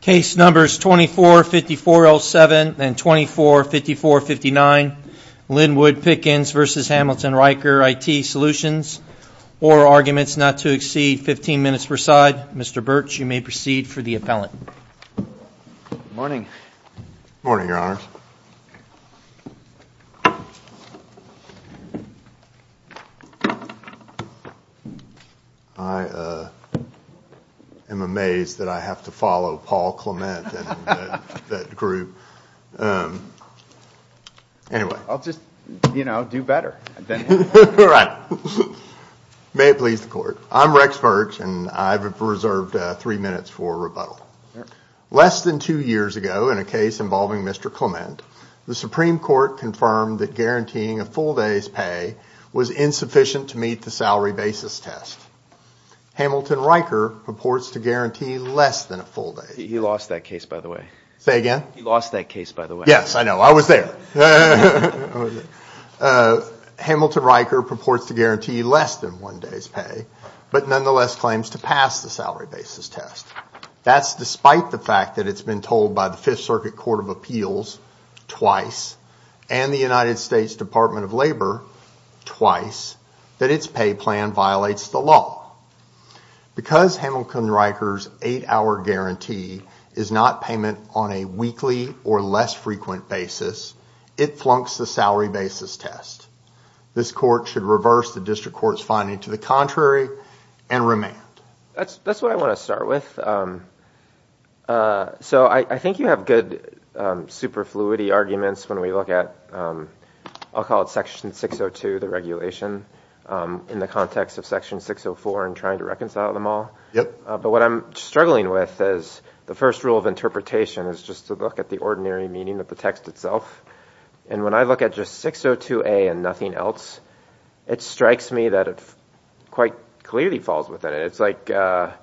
Case numbers 245407 and 245459, Linwood Pickens v. Hamilton-Ryker IT Solutions, or arguments not to exceed 15 minutes per side. Mr. Birch, you may proceed for the appellant. Good morning. Good morning, Your Honors. I am amazed that I have to follow Paul Clement and that group. I'll just, you know, do better. Right. May it please the Court. I'm Rex Birch, and I've reserved three minutes for rebuttal. Less than two years ago in a case involving Mr. Clement, the Supreme Court confirmed that guaranteeing a full day's pay was insufficient to meet the salary basis test. Hamilton-Ryker purports to guarantee less than a full day's pay. He lost that case, by the way. Say again? He lost that case, by the way. Yes, I know. I was there. Hamilton-Ryker purports to guarantee less than one day's pay, but nonetheless claims to pass the salary basis test. That's despite the fact that it's been told by the Fifth Circuit Court of Appeals twice and the United States Department of Labor twice that its pay plan violates the law. Because Hamilton-Ryker's eight-hour guarantee is not payment on a weekly or less frequent basis, it flunks the salary basis test. This Court should reverse the district court's finding to the contrary and remand. That's what I want to start with. So I think you have good superfluity arguments when we look at, I'll call it Section 602, the regulation, in the context of Section 604 and trying to reconcile them all. But what I'm struggling with is the first rule of interpretation is just to look at the ordinary meaning of the text itself. And when I look at just 602A and nothing else, it strikes me that it quite clearly falls within it. It's like the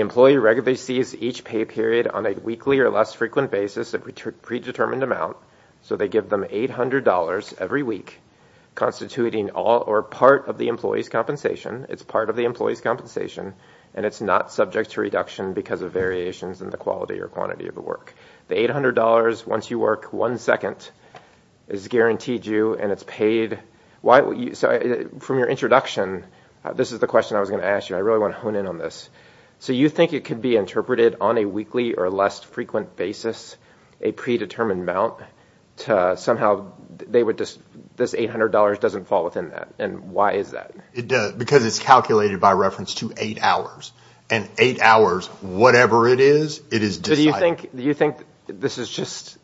employee regularly sees each pay period on a weekly or less frequent basis, a predetermined amount. So they give them $800 every week, constituting all or part of the employee's compensation. It's part of the employee's compensation, and it's not subject to reduction because of variations in the quality or quantity of the work. The $800 once you work one second is guaranteed you, and it's paid. From your introduction, this is the question I was going to ask you. I really want to hone in on this. So you think it could be interpreted on a weekly or less frequent basis, a predetermined amount, to somehow this $800 doesn't fall within that. And why is that? Because it's calculated by reference to eight hours. And eight hours, whatever it is, it is decided. So do you think this is just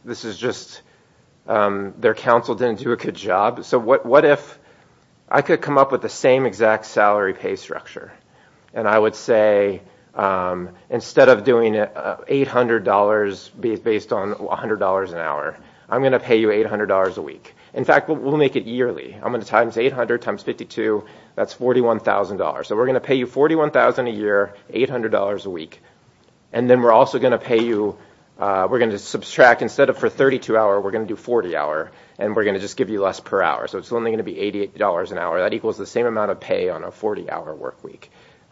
their counsel didn't do a good job? So what if I could come up with the same exact salary pay structure, and I would say instead of doing $800 based on $100 an hour, I'm going to pay you $800 a week. In fact, we'll make it yearly. I'm going to times 800 times 52, that's $41,000. So we're going to pay you $41,000 a year, $800 a week, and then we're also going to subtract. Instead of for a 32-hour, we're going to do 40-hour, and we're going to just give you less per hour. So it's only going to be $88 an hour. That equals the same amount of pay on a 40-hour work week.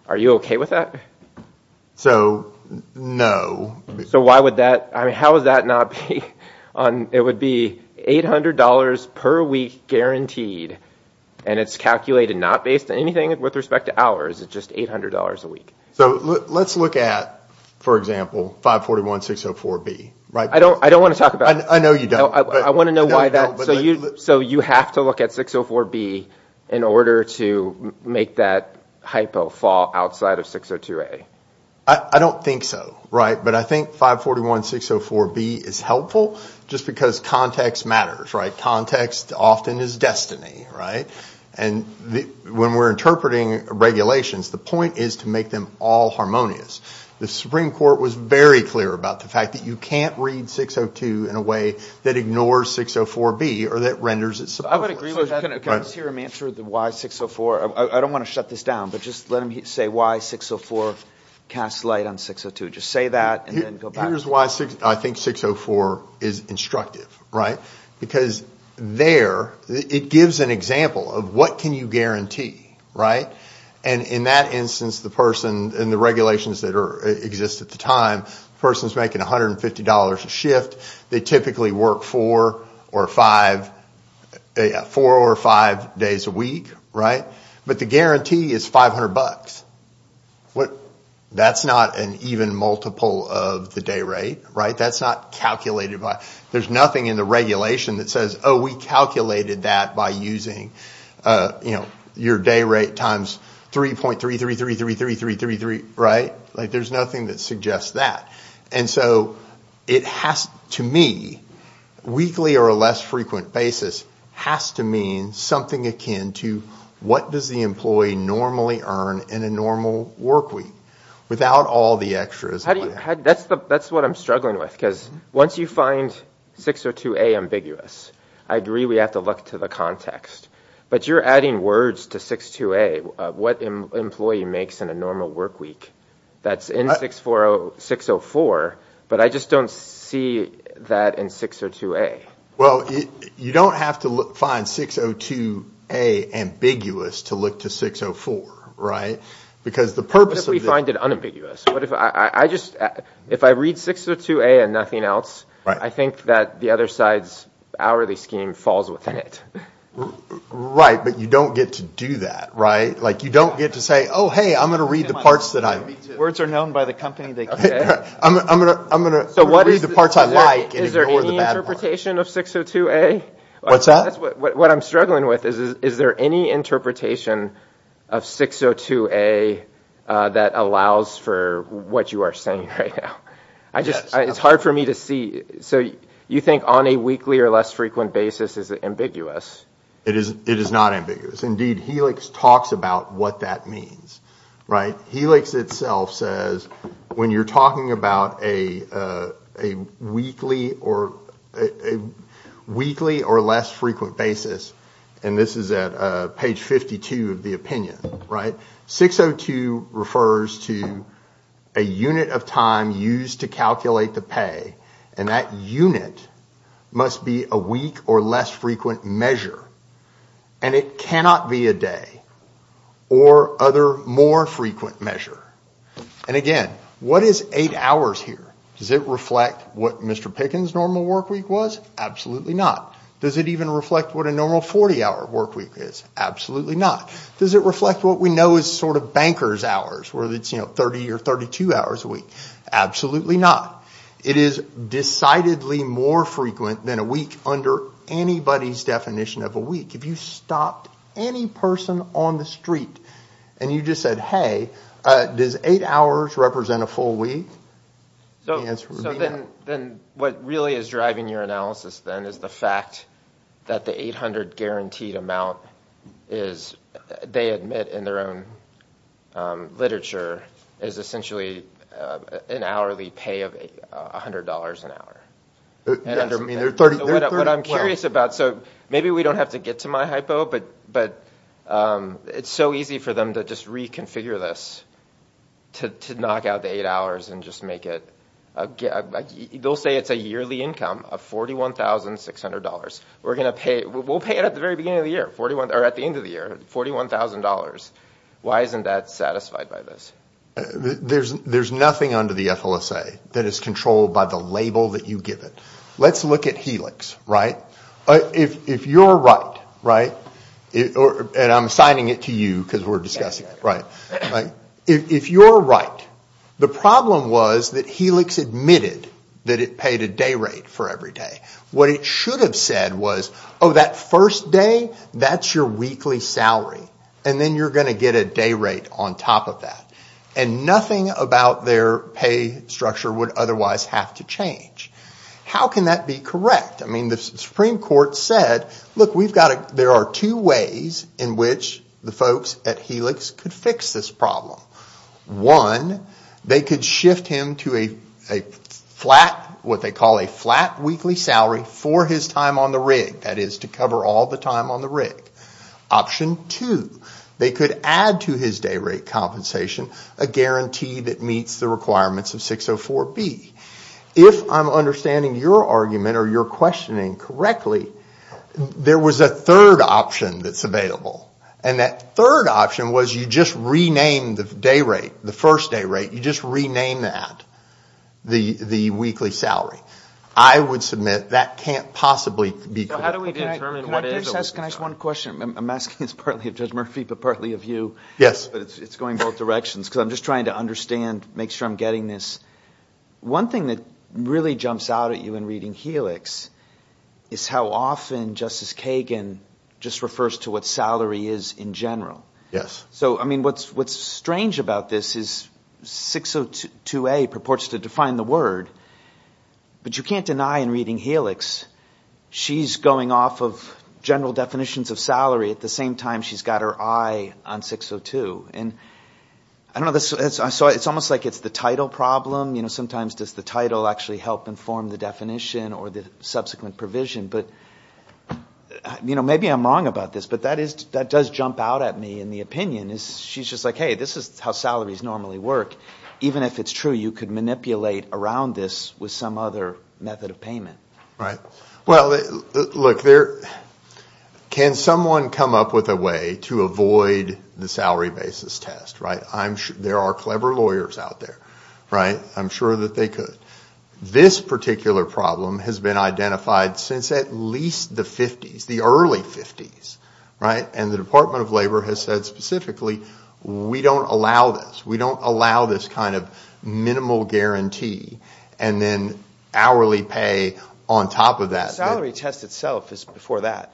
Are you okay with that? So no. So how would that not be? It would be $800 per week guaranteed, and it's calculated not based on anything with respect to hours, it's just $800 a week. So let's look at, for example, 541-604-B. I don't want to talk about it. I know you don't. I want to know why that so you have to look at 604-B in order to make that hypo fall outside of 602-A. I don't think so, but I think 541-604-B is helpful just because context matters. Context often is destiny, and when we're interpreting regulations, the point is to make them all harmonious. The Supreme Court was very clear about the fact that you can't read 602 in a way that ignores 604-B or that renders it subpoena. I would agree with that. Can I just hear him answer the why 604? I don't want to shut this down, but just let him say why 604 casts light on 602. Just say that and then go back. Here's why I think 604 is instructive, right? Because there it gives an example of what can you guarantee, right? In that instance, the person in the regulations that exist at the time, the person's making $150 a shift. They typically work four or five days a week, right? But the guarantee is 500 bucks. That's not an even multiple of the day rate, right? That's not calculated. There's nothing in the regulation that says, oh, we calculated that by using your day rate times 3.33333333, right? There's nothing that suggests that. So it has, to me, a weekly or a less frequent basis has to mean something akin to what does the employee normally earn in a normal workweek without all the extras. That's what I'm struggling with because once you find 602A ambiguous, I agree we have to look to the context, but you're adding words to 602A, what an employee makes in a normal workweek that's in 604, but I just don't see that in 602A. Well, you don't have to find 602A ambiguous to look to 604, right? What if we find it unambiguous? If I read 602A and nothing else, I think that the other side's hourly scheme falls within it. Right, but you don't get to do that, right? Like, you don't get to say, oh, hey, I'm going to read the parts that I... Words are known by the company they... I'm going to read the parts I like... Is there any interpretation of 602A? What's that? What I'm struggling with is, is there any interpretation of 602A that allows for what you are saying right now? It's hard for me to see. So, you think on a weekly or less frequent basis is it ambiguous? It is not ambiguous. Indeed, Helix talks about what that means, right? Helix itself says, when you're talking about a weekly or less frequent basis, and this is at page 52 of the opinion, right? 602 refers to a unit of time used to calculate the pay, and that unit must be a week or less frequent measure, and it cannot be a day or other more frequent measure. And again, what is eight hours here? Does it reflect what Mr. Pickens' normal work week was? Absolutely not. Does it even reflect what a normal 40-hour work week is? Absolutely not. Does it reflect what we know is sort of banker's hours, where it's 30 or 32 hours a week? Absolutely not. It is decidedly more frequent than a week under anybody's definition of a week. If you stopped any person on the street, and you just said, hey, does eight hours represent a full week? The answer would be no. So then, what really is driving your analysis then is the fact that the 800 guaranteed amount is, they admit in their own literature, is essentially an hourly pay of $100 an hour. I mean, there are 30 plans. What I'm curious about, so maybe we don't have to get to my hypo, but it's so easy for them to just reconfigure this to knock out the eight hours and just make it, they'll say it's a yearly income of $41,600. We'll pay it at the very beginning of the year, or at the end of the year, $41,000. Why isn't that satisfied by this? There's nothing under the FLSA that is controlled by the label that you give it. Let's look at Helix. If you're right, and I'm assigning it to you because we're discussing it, if you're right, the problem was that Helix admitted that it paid a day rate for every day. What it should have said was, oh, that first day, that's your weekly salary, and then you're going to get a day rate on top of that, and nothing about their pay structure would otherwise have to change. How can that be correct? I mean, the Supreme Court said, look, there are two ways in which the folks at Helix could fix this problem. One, they could shift him to a flat, what they call a flat weekly salary, for his time on the rig, that is, to cover all the time on the rig. Option two, they could add to his day rate compensation a guarantee that meets the requirements of 604B. If I'm understanding your argument or your questioning correctly, there was a third option that's available, and that third option was you just renamed the day rate, the first day rate, you just renamed that the weekly salary. I would submit that can't possibly be correct. Can I ask one question? I'm asking this partly of Judge Murphy but partly of you. Yes. But it's going both directions, because I'm just trying to understand, make sure I'm getting this. One thing that really jumps out at you in reading Helix is how often Justice Kagan just refers to what salary is in general. Yes. So, I mean, what's strange about this is 602A purports to define the word, but you can't deny in reading Helix she's going off of general definitions of salary at the same time she's got her eye on 602. And, I don't know, it's almost like it's the title problem. You know, sometimes does the title actually help inform the definition or the subsequent provision? But, you know, maybe I'm wrong about this, but that does jump out at me in the opinion. She's just like, hey, this is how salaries normally work. Even if it's true, you could manipulate around this with some other method of payment. Right. Well, look, there... Can someone come up with a way to avoid the salary basis test, right? There are clever lawyers out there, right? I'm sure that they could. This particular problem has been identified since at least the 50s, the early 50s, right? And the Department of Labor has said specifically, we don't allow this. We don't allow this kind of minimal guarantee and then hourly pay on top of that. The salary test itself is before that.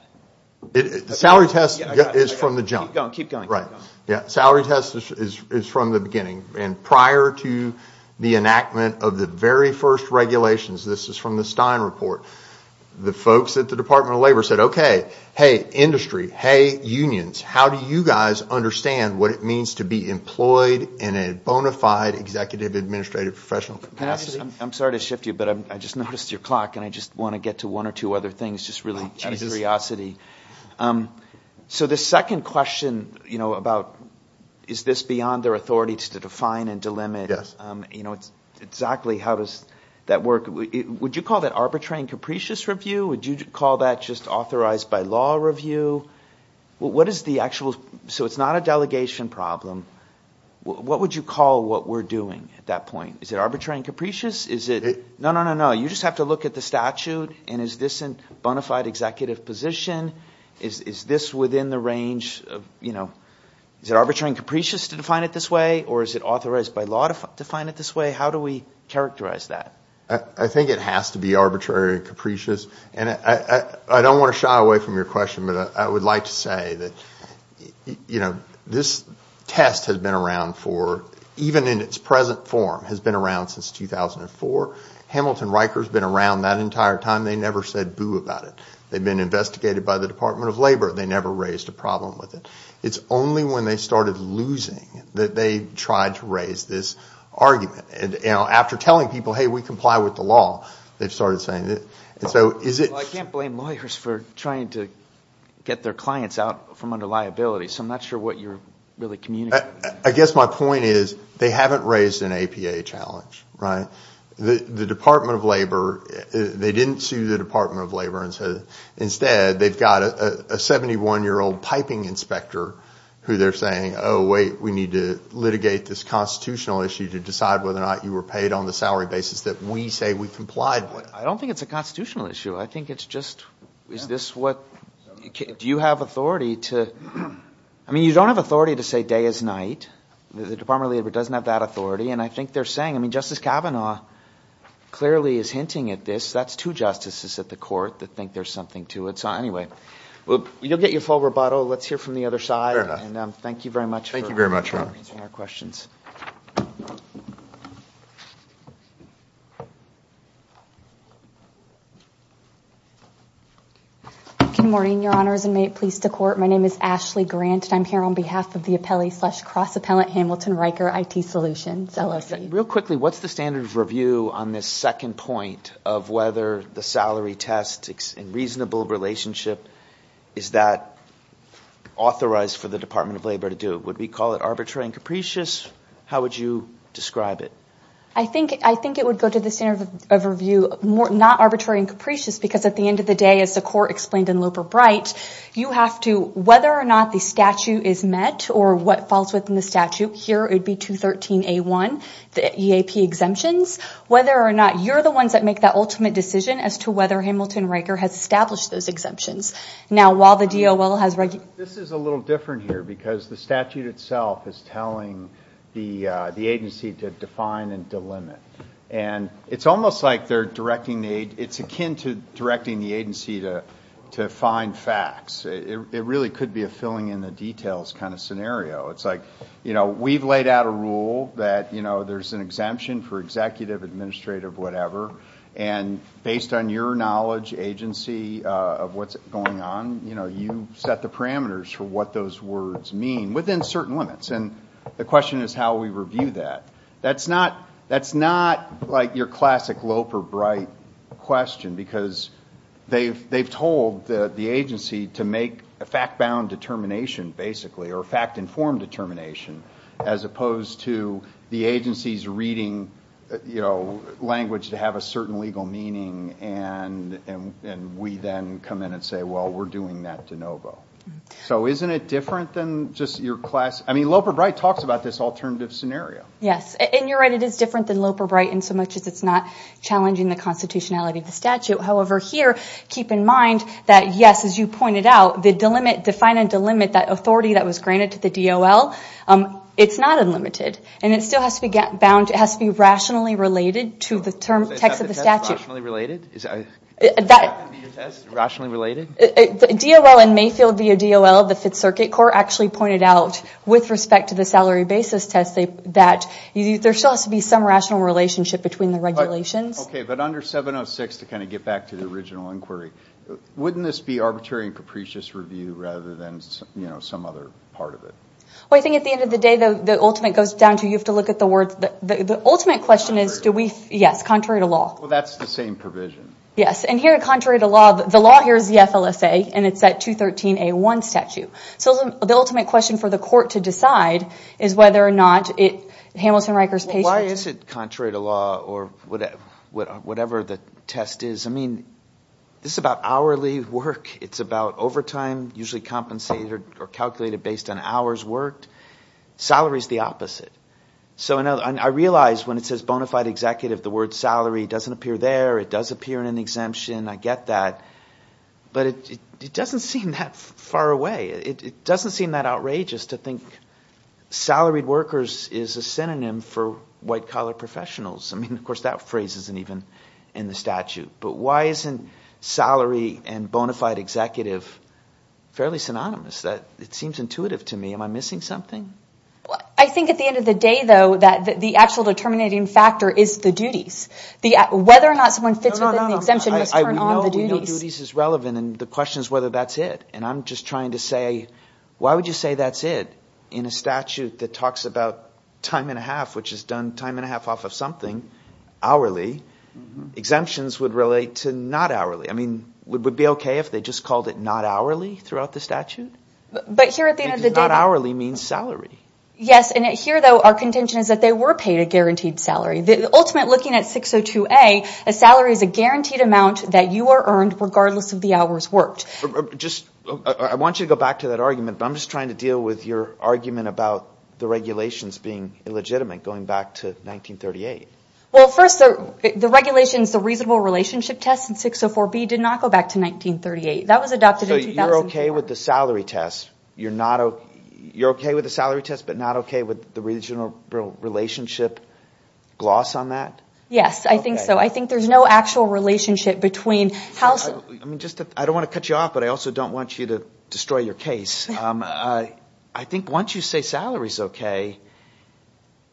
The salary test is from the jump. Keep going. Salary test is from the beginning. And prior to the enactment of the very first regulations, this is from the Stein report, the folks at the Department of Labor said, okay, hey, industry, hey, unions, how do you guys understand what it means to be employed in a bona fide executive administrative professional capacity? I'm sorry to shift you, but I just noticed your clock and I just want to get to one or two other things just really out of curiosity. So the second question, you know, about is this beyond their authority to define and delimit? Yes. You know, exactly how does that work? Would you call that arbitrary and capricious review? Would you call that just authorized by law review? What is the actual, so it's not a delegation problem. What would you call what we're doing at that point? Is it arbitrary and capricious? Is it, no, no, no, no, you just have to look at the statute and is this a bona fide executive position? Is this within the range of, you know, is it arbitrary and capricious to define it this way or is it authorized by law to define it this way? How do we characterize that? I think it has to be arbitrary and capricious and I don't want to shy away from your question, but I would like to say that, you know, this test has been around for, even in its present form has been around since 2004. Hamilton Riker has been around that entire time. They never said boo about it. They've been investigated by the Department of Labor. They never raised a problem with it. It's only when they started losing that they tried to raise this argument. And, you know, after telling people, hey, we comply with the law, they've started saying it. I can't blame lawyers for trying to get their clients out from under liability, so I'm not sure what you're really communicating. I guess my point is they haven't raised an APA challenge, right? The Department of Labor, they didn't sue the Department of Labor. Instead, they've got a 71-year-old piping inspector who they're saying, oh, wait, we need to litigate this constitutional issue to decide whether or not you were paid on the salary basis that we say we complied with. I don't think it's a constitutional issue. I think it's just, is this what... Do you have authority to... I mean, you don't have authority to say day is night. The Department of Labor doesn't have that authority, and I think they're saying... I mean, Justice Kavanaugh clearly is hinting at this. That's two justices at the court that think there's something to it. So, anyway, you'll get your full rebuttal. Let's hear from the other side. And thank you very much for answering our questions. Good morning, Your Honors, and may it please the Court. My name is Ashley Grant, and I'm here on behalf of the appellee slash cross-appellant Hamilton-Riker IT Solutions, LLC. Real quickly, what's the standard of review on this second point of whether the salary test in reasonable relationship, is that authorized for the Department of Labor to do? Would we call it arbitrary and capricious? How would you describe it? I think it would go to the Court of Appeals to the standard of review, not arbitrary and capricious, because at the end of the day, as the Court explained in Looper Bright, you have to, whether or not the statute is met or what falls within the statute, here it would be 213A1, the EAP exemptions, whether or not you're the ones that make that ultimate decision as to whether Hamilton-Riker has established those exemptions. Now, while the DOL has... This is a little different here, because the statute itself is telling the agency to define and delimit. And it's almost like it's akin to directing the agency to find facts. It really could be a filling in the details kind of scenario. It's like, you know, we've laid out a rule that there's an exemption for executive, administrative, whatever, and based on your knowledge, agency, of what's going on, you set the parameters for what those words mean within certain limits. And the question is how we review that. That's not like your classic Looper Bright question, because they've told the agency to make a fact-bound determination, basically, or fact-informed determination, as opposed to the agency's reading language to have a certain legal meaning, and we then come in and say, well, we're doing that de novo. So isn't it different than just your classic... I mean, Looper Bright talks about this alternative scenario. Yes, and you're right. It is different than Looper Bright in so much as it's not challenging the constitutionality of the statute. However, here, keep in mind that, yes, as you pointed out, the define and delimit, that authority that was granted to the DOL, it's not unlimited. And it still has to be rationally related to the text of the statute. Is that rationally related? Is that in your test, rationally related? DOL and Mayfield via DOL, the Fifth Circuit Court, actually pointed out, with respect to the salary basis test, that there still has to be some rational relationship between the regulations. Okay, but under 706, to kind of get back to the original inquiry, wouldn't this be arbitrary and capricious review rather than some other part of it? Well, I think at the end of the day, the ultimate goes down to you have to look at the words... The ultimate question is, do we... Yes, contrary to law. Well, that's the same provision. Yes, and here, contrary to law, the law here is the FLSA, and it's that 213A1 statute. So the ultimate question for the court to decide is whether or not Hamilton-Rikers patient... Why is it contrary to law or whatever the test is? I mean, this is about hourly work. It's about overtime, usually compensated or calculated based on hours worked. Salary is the opposite. So I realize when it says bona fide executive, the word salary doesn't appear there. It does appear in an exemption. I get that. But it doesn't seem that far away. It doesn't seem that outrageous to think salaried workers is a synonym for white-collar professionals. I mean, of course, that phrase isn't even in the statute. But why isn't salary and bona fide executive fairly synonymous? It seems intuitive to me. Am I missing something? I think at the end of the day, though, that the actual determining factor is the duties. Whether or not someone fits within the exemption must turn on the duties. We know duties is relevant, and the question is whether that's it. And I'm just trying to say, why would you say that's it? In a statute that talks about time and a half, which is done time and a half off of something hourly, exemptions would relate to not hourly. I mean, would it be okay if they just called it not hourly throughout the statute? Because not hourly means salary. Yes, and here, though, our contention is that they were paid a guaranteed salary. Ultimately, looking at 602A, a salary is a guaranteed amount that you are earned regardless of the hours worked. I want you to go back to that argument, but I'm just trying to deal with your argument about the regulations being illegitimate going back to 1938. Well, first, the regulations, the reasonable relationship test in 604B did not go back to 1938. That was adopted in 2004. So you're okay with the salary test, but not okay with the reasonable relationship gloss on that? Yes, I think so. I think there's no actual relationship between... I don't want to cut you off, but I also don't want you to destroy your case. I think once you say salary is okay,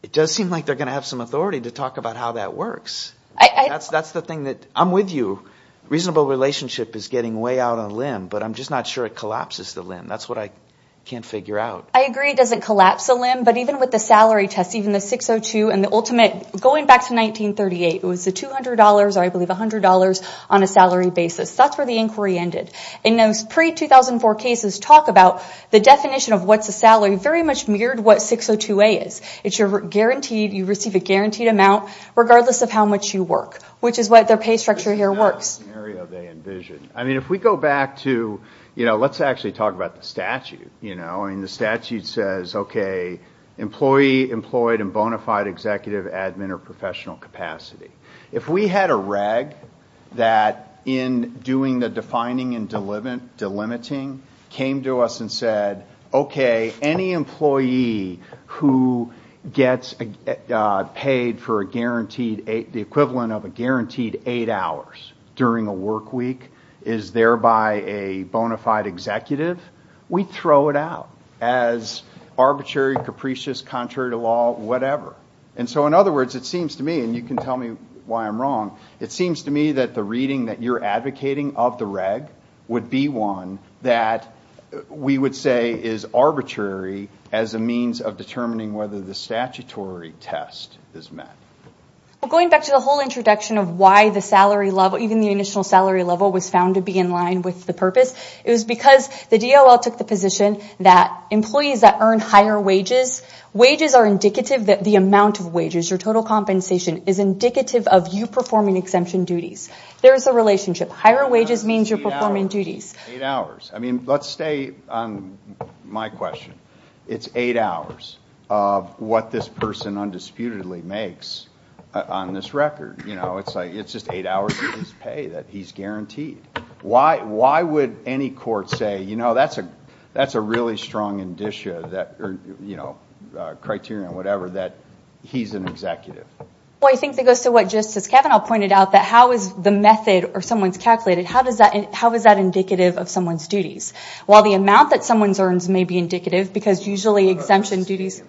it does seem like they're going to have some authority to talk about how that works. I'm with you. Reasonable relationship is getting way out on a limb, but I'm just not sure it collapses the limb. That's what I can't figure out. I agree it doesn't collapse the limb, but even with the salary test, even the 602 and the ultimate, going back to 1938, it was the $200 or, I believe, $100 on a salary basis. That's where the inquiry ended. In those pre-2004 cases, talk about the definition of what's a salary very much mirrored what 602A is. It's you receive a guaranteed amount regardless of how much you work, which is what their pay structure here works. That's not the scenario they envisioned. If we go back to... Let's actually talk about the statute. The statute says, okay, employee employed in bona fide executive, admin, or professional capacity. If we had a reg that, in doing the defining and delimiting, came to us and said, okay, any employee who gets paid for the equivalent of a guaranteed eight hours during a work week is thereby a bona fide executive, we'd throw it out as arbitrary, capricious, contrary to law, whatever. In other words, it seems to me, and you can tell me why I'm wrong, it seems to me that the reading that you're advocating of the reg would be one that we would say is arbitrary as a means of determining whether the statutory test is met. Going back to the whole introduction of why even the initial salary level was found to be in line with the purpose, it was because the DOL took the position that employees that earn higher wages, wages are indicative, the amount of wages, your total compensation is indicative of you performing exemption duties. There is a relationship. Higher wages means you're performing duties. Eight hours. I mean, let's stay on my question. It's eight hours of what this person undisputedly makes on this record. It's just eight hours of his pay that he's guaranteed. Why would any court say, that's a really strong indicia or criteria or whatever, that he's an executive? I think it goes to what Justice Kavanaugh pointed out, that how is the method or someone's calculated, how is that indicative of someone's duties? While the amount that someone earns may be indicative because usually exemption duties...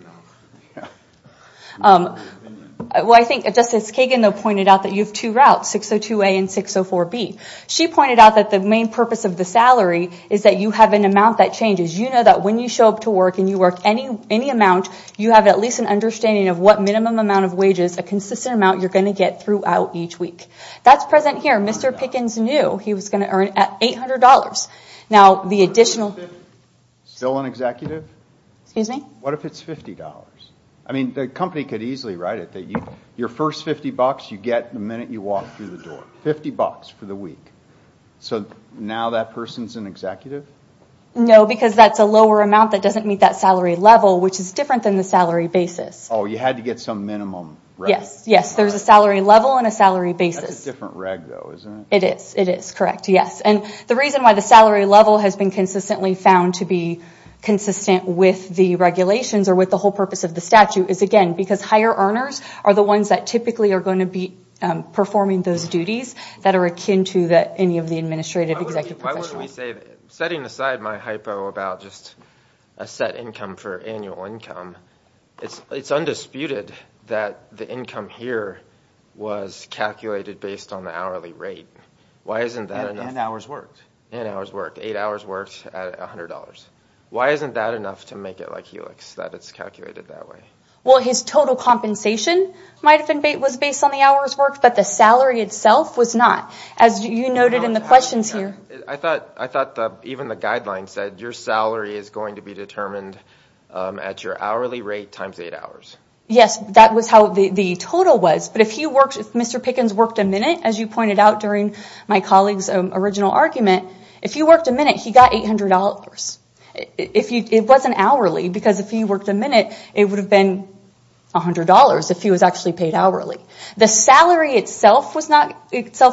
Well, I think Justice Kagan pointed out that you have two routes, 602A and 604B. She pointed out that the main purpose of the salary is that you have an amount that changes. You know that when you show up to work and you work any amount, you have at least an understanding of what minimum amount of wages, a consistent amount, you're going to get throughout each week. That's present here. Mr. Pickens knew he was going to earn $800. Now, the additional... Still an executive? Excuse me? What if it's $50? I mean, the company could easily write it that your first 50 bucks, you get the minute you walk through the door. 50 bucks for the week. So, now that person's an executive? No, because that's a lower amount that doesn't meet that salary level, which is different than the salary basis. Oh, you had to get some minimum? Yes, yes. There's a salary level and a salary basis. That's a different reg, though, isn't it? It is, it is. Correct, yes. And the reason why the salary level has been consistently found to be consistent with the regulations or with the whole purpose of the statute is, again, because higher earners are the ones that typically are going to be performing those duties that are akin to any of the administrative executive professionals. Why wouldn't we say... Setting aside my hypo about just a set income for annual income, it's undisputed that the income here was calculated based on the hourly rate. Why isn't that enough? And hours worked. And hours worked. Eight hours worked at $100. Why isn't that enough to make it like Helix, that it's calculated that way? Well, his total compensation might have been based on the hours worked, but the salary itself was not, as you noted in the questions here. I thought even the guidelines said your salary is going to be determined at your hourly rate times eight hours. Yes, that was how the total was. But if Mr. Pickens worked a minute, as you pointed out during my colleague's original argument, if he worked a minute, he got $800. It wasn't hourly, because if he worked a minute, it would have been $100 if he was actually paid hourly. The salary itself was not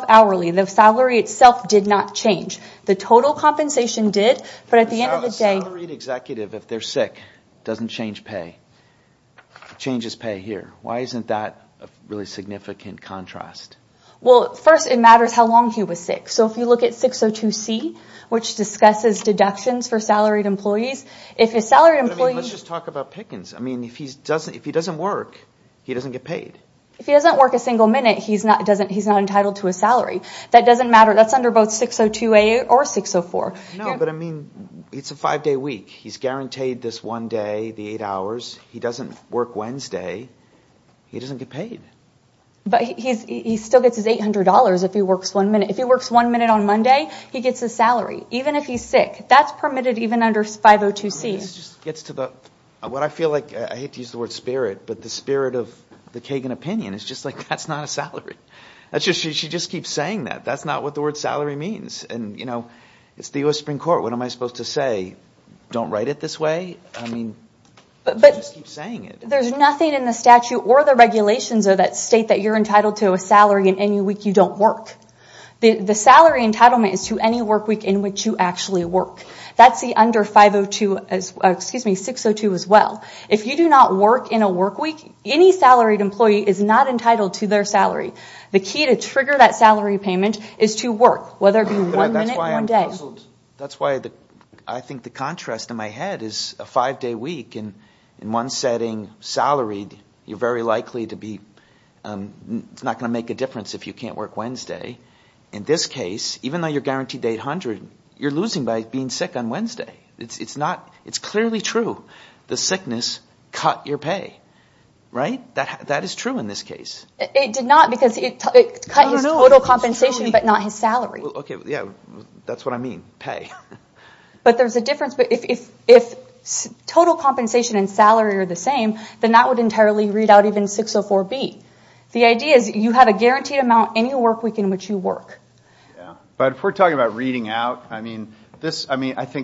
hourly. The salary itself did not change. The total compensation did, but at the end of the day... A salaried executive, if they're sick, doesn't change pay. It changes pay here. Why isn't that a really significant contrast? Well, first, it matters how long he was sick. So if you look at 602C, which discusses deductions for salaried employees, if a salaried employee... But, I mean, let's just talk about Pickens. I mean, if he doesn't work, he doesn't get paid. If he doesn't work a single minute, he's not entitled to a salary. That doesn't matter. That's under both 602A or 604. No, but, I mean, it's a five-day week. He's guaranteed this one day, the eight hours. He doesn't work Wednesday. He doesn't get paid. But he still gets his $800 if he works one minute. If he works one minute on Monday, he gets his salary, even if he's sick. That's permitted even under 502C. I mean, this just gets to the... What I feel like... I hate to use the word spirit, but the spirit of the Kagan opinion is just like, that's not a salary. She just keeps saying that. That's not what the word salary means. It's the US Supreme Court. What am I supposed to say? Don't write it this way? I mean, she just keeps saying it. There's nothing in the statute or the regulations that state that you're entitled to a salary in any week you don't work. The salary entitlement is to any work week in which you actually work. That's the under 602 as well. If you do not work in a work week, any salaried employee is not entitled to their salary. The key to trigger that salary payment is to work, whether it be one minute or one day. That's why I'm puzzled. That's why I think the contrast in my head is a five-day week, and in one setting, salaried, you're very likely to be... It's not going to make a difference if you can't work Wednesday. In this case, even though you're guaranteed to 800, you're losing by being sick on Wednesday. It's clearly true. The sickness cut your pay, right? That is true in this case. It did not because it cut his total compensation but not his salary. That's what I mean, pay. There's a difference. If total compensation and salary are the same, then that would entirely read out even 604B. The idea is you have a guaranteed amount any work week in which you work. If we're talking about reading out, I think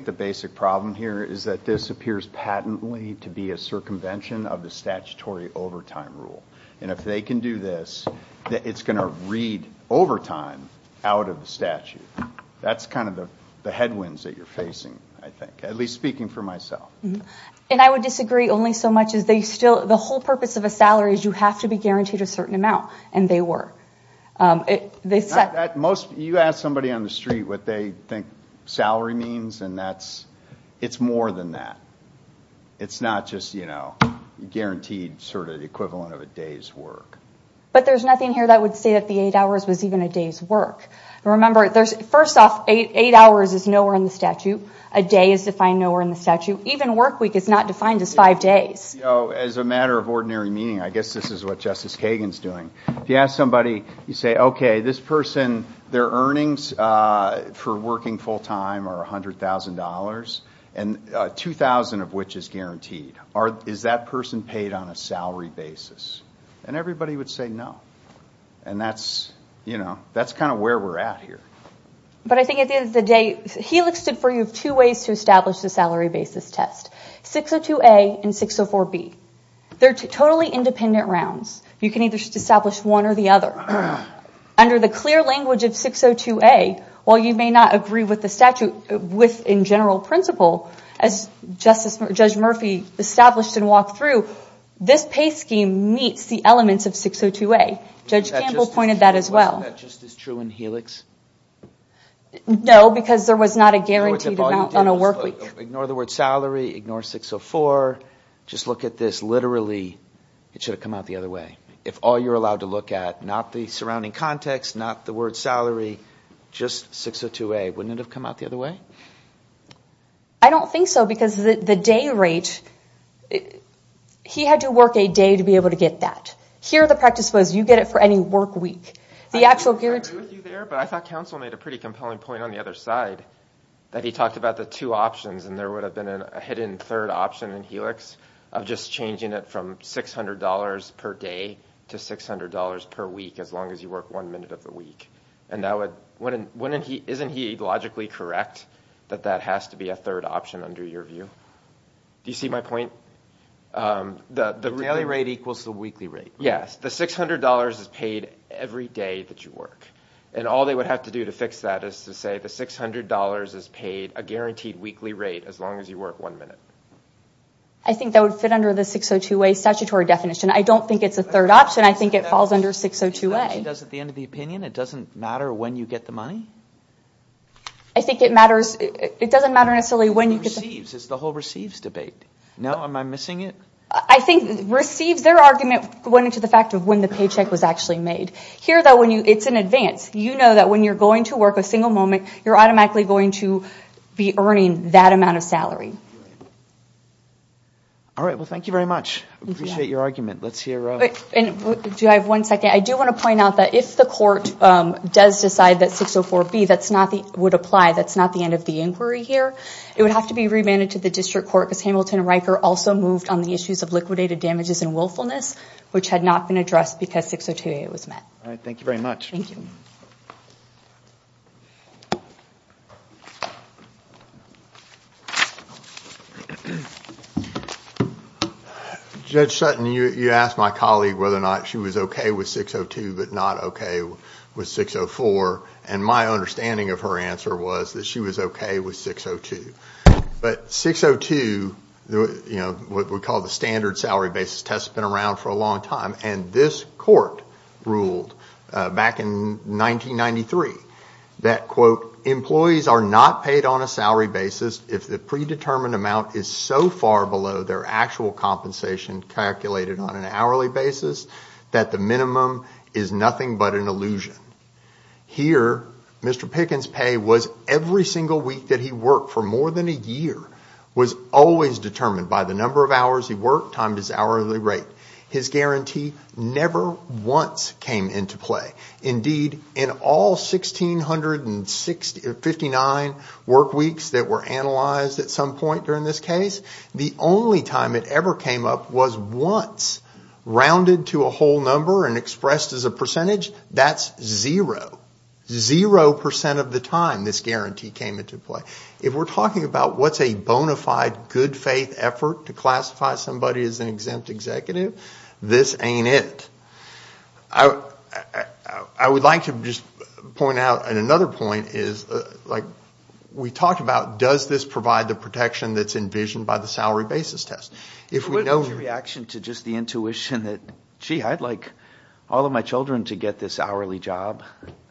the basic problem here is that this appears patently to be a circumvention of the statutory overtime rule. If they can do this, it's going to read overtime out of the statute. That's the headwinds that you're facing, I think, at least speaking for myself. I would disagree only so much. The whole purpose of a salary is you have to be guaranteed a certain amount, and they were. You ask somebody on the street what they think salary means, and it's more than that. It's not just guaranteed the equivalent of a day's work. But there's nothing here that would say that the eight hours was even a day's work. Remember, first off, eight hours is nowhere in the statute. A day is defined nowhere in the statute. Even work week is not defined as five days. As a matter of ordinary meaning, I guess this is what Justice Kagan is doing. If you ask somebody, you say, okay, this person, their earnings for working full-time are $100,000, 2,000 of which is guaranteed. Is that person paid on a salary basis? And everybody would say no. And that's kind of where we're at here. But I think at the end of the day, he listed for you two ways to establish the salary basis test, 602A and 604B. They're totally independent rounds. You can either establish one or the other. Under the clear language of 602A, while you may not agree with the statute in general principle, as Judge Murphy established and walked through, this pay scheme meets the elements of 602A. Judge Campbell pointed that as well. Wasn't that just as true in Helix? No, because there was not a guaranteed amount on a work week. Ignore the word salary, ignore 604. Just look at this literally. It should have come out the other way. If all you're allowed to look at, not the surrounding context, not the word salary, just 602A. Wouldn't it have come out the other way? I don't think so because the day rate he had to work a day to be able to get that. Here the practice was you get it for any work week. I didn't agree with you there, but I thought counsel made a pretty compelling point on the other side that he talked about the two options and there would have been a hidden third option in Helix of just changing it from $600 per day to $600 per week as long as you work one minute of the week. Isn't he logically correct that that has to be a third option under your view? Do you see my point? The daily rate equals the weekly rate. Yes, the $600 is paid every day that you work. And all they would have to do to fix that is to say the $600 is paid a guaranteed weekly rate as long as you work one minute. I think that would fit under the 602A statutory definition. I don't think it's a third option. I think it falls under 602A. It doesn't matter when you get the money? I think it matters... It's the whole receives debate. No? Am I missing it? I think receives, their argument went into the fact of when the paycheck was actually made. Here, though, it's in advance. You know that when you're going to work a single moment, you're automatically going to be earning that amount of salary. All right, well, thank you very much. I appreciate your argument. Do I have one second? I do want to point out that if the court does decide that 604B would apply, that's not the end of the inquiry here. It would have to be remanded to the district court because Hamilton and Riker also moved on the issues of liquidated damages and willfulness, which had not been addressed because 602A was met. All right, thank you very much. Thank you. Judge Sutton, you asked my colleague whether or not she was okay with 602 but not okay with 604. And my understanding of her answer was that she was okay with 602. But 602, what we call the standard salary basis test, has been around for a long time. And this court ruled back in 1993 that, quote, employees are not paid on a salary basis if the predetermined amount is so far below their actual compensation calculated on an hourly basis that the minimum is nothing but an illusion. Here, Mr. Pickens' pay was every single week that he worked for more than a year was always determined by the number of hours he worked times his hourly rate. His guarantee never once came into play. Indeed, in all 1,659 work weeks that were analyzed at some point during this case, the only time it ever came up was once. Rounded to a whole number and expressed as a percentage, that's zero. Zero percent of the time this guarantee came into play. If we're talking about what's a bona fide good faith effort to classify somebody as an exempt executive, this ain't it. I would like to just point out, and another point is, we talked about does this provide the protection that's envisioned by the salary basis test. If we know... What was your reaction to just the intuition that, gee, I'd like all of my children to get this hourly job,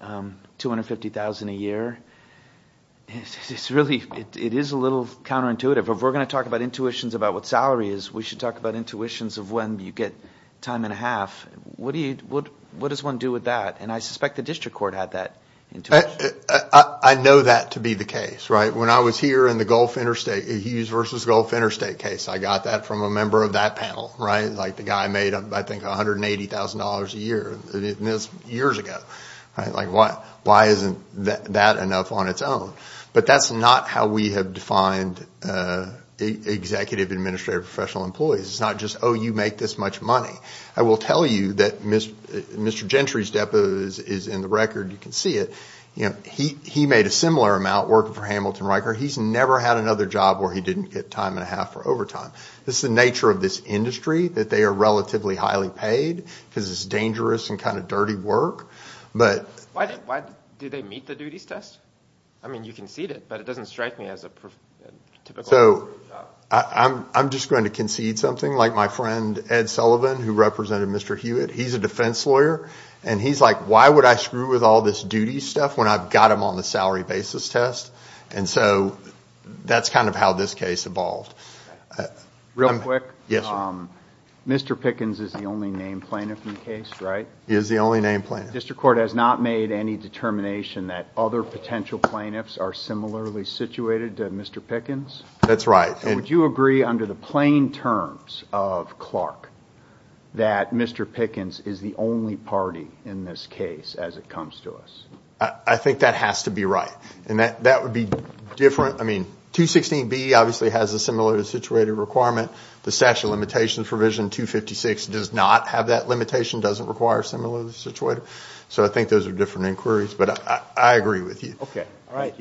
$250,000 a year. It is a little counterintuitive. If we're going to talk about intuitions about what salary is, we should talk about intuitions of when you get time and a half. What does one do with that? I suspect the district court had that intuition. I know that to be the case. When I was here in the Hughes v. Gulf Interstate case, I got that from a member of that panel. The guy made, I think, $180,000 a year. That's years ago. Why isn't that enough on its own? But that's not how we have defined executive administrative professional employees. It's not just, oh, you make this much money. I will tell you that Mr. Gentry's depot is in the record. You can see it. He made a similar amount working for Hamilton Riker. He's never had another job where he didn't get time and a half for overtime. This is the nature of this industry, that they are relatively highly paid because it's dangerous and kind of dirty work. Why do they meet the duties test? I mean, you concede it, but it doesn't strike me as a typical job. I'm just going to concede something, like my friend Ed Sullivan, who represented Mr. Hewitt. He's a defense lawyer, and he's like, why would I screw with all this duties stuff when I've got them on the salary basis test? That's kind of how this case evolved. Real quick, Mr. Pickens is the only named plaintiff in the case, right? He is the only named plaintiff. The district court has not made any determination that other potential plaintiffs are similarly situated to Mr. Pickens? That's right. Would you agree under the plain terms of Clark that Mr. Pickens is the only party in this case as it comes to us? I think that has to be right. And that would be different. I mean, 216B obviously has a similarly situated requirement. The statute of limitations provision 256 does not have that limitation, doesn't require similarly situated. So I think those are different inquiries, but I agree with you. Okay. All right.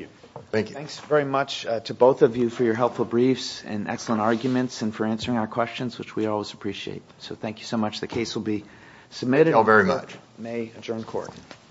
Thank you. Thanks very much to both of you for your helpful briefs and excellent arguments and for answering our questions, which we always appreciate. So thank you so much. The case will be submitted. Thank you all very much. May adjourn court.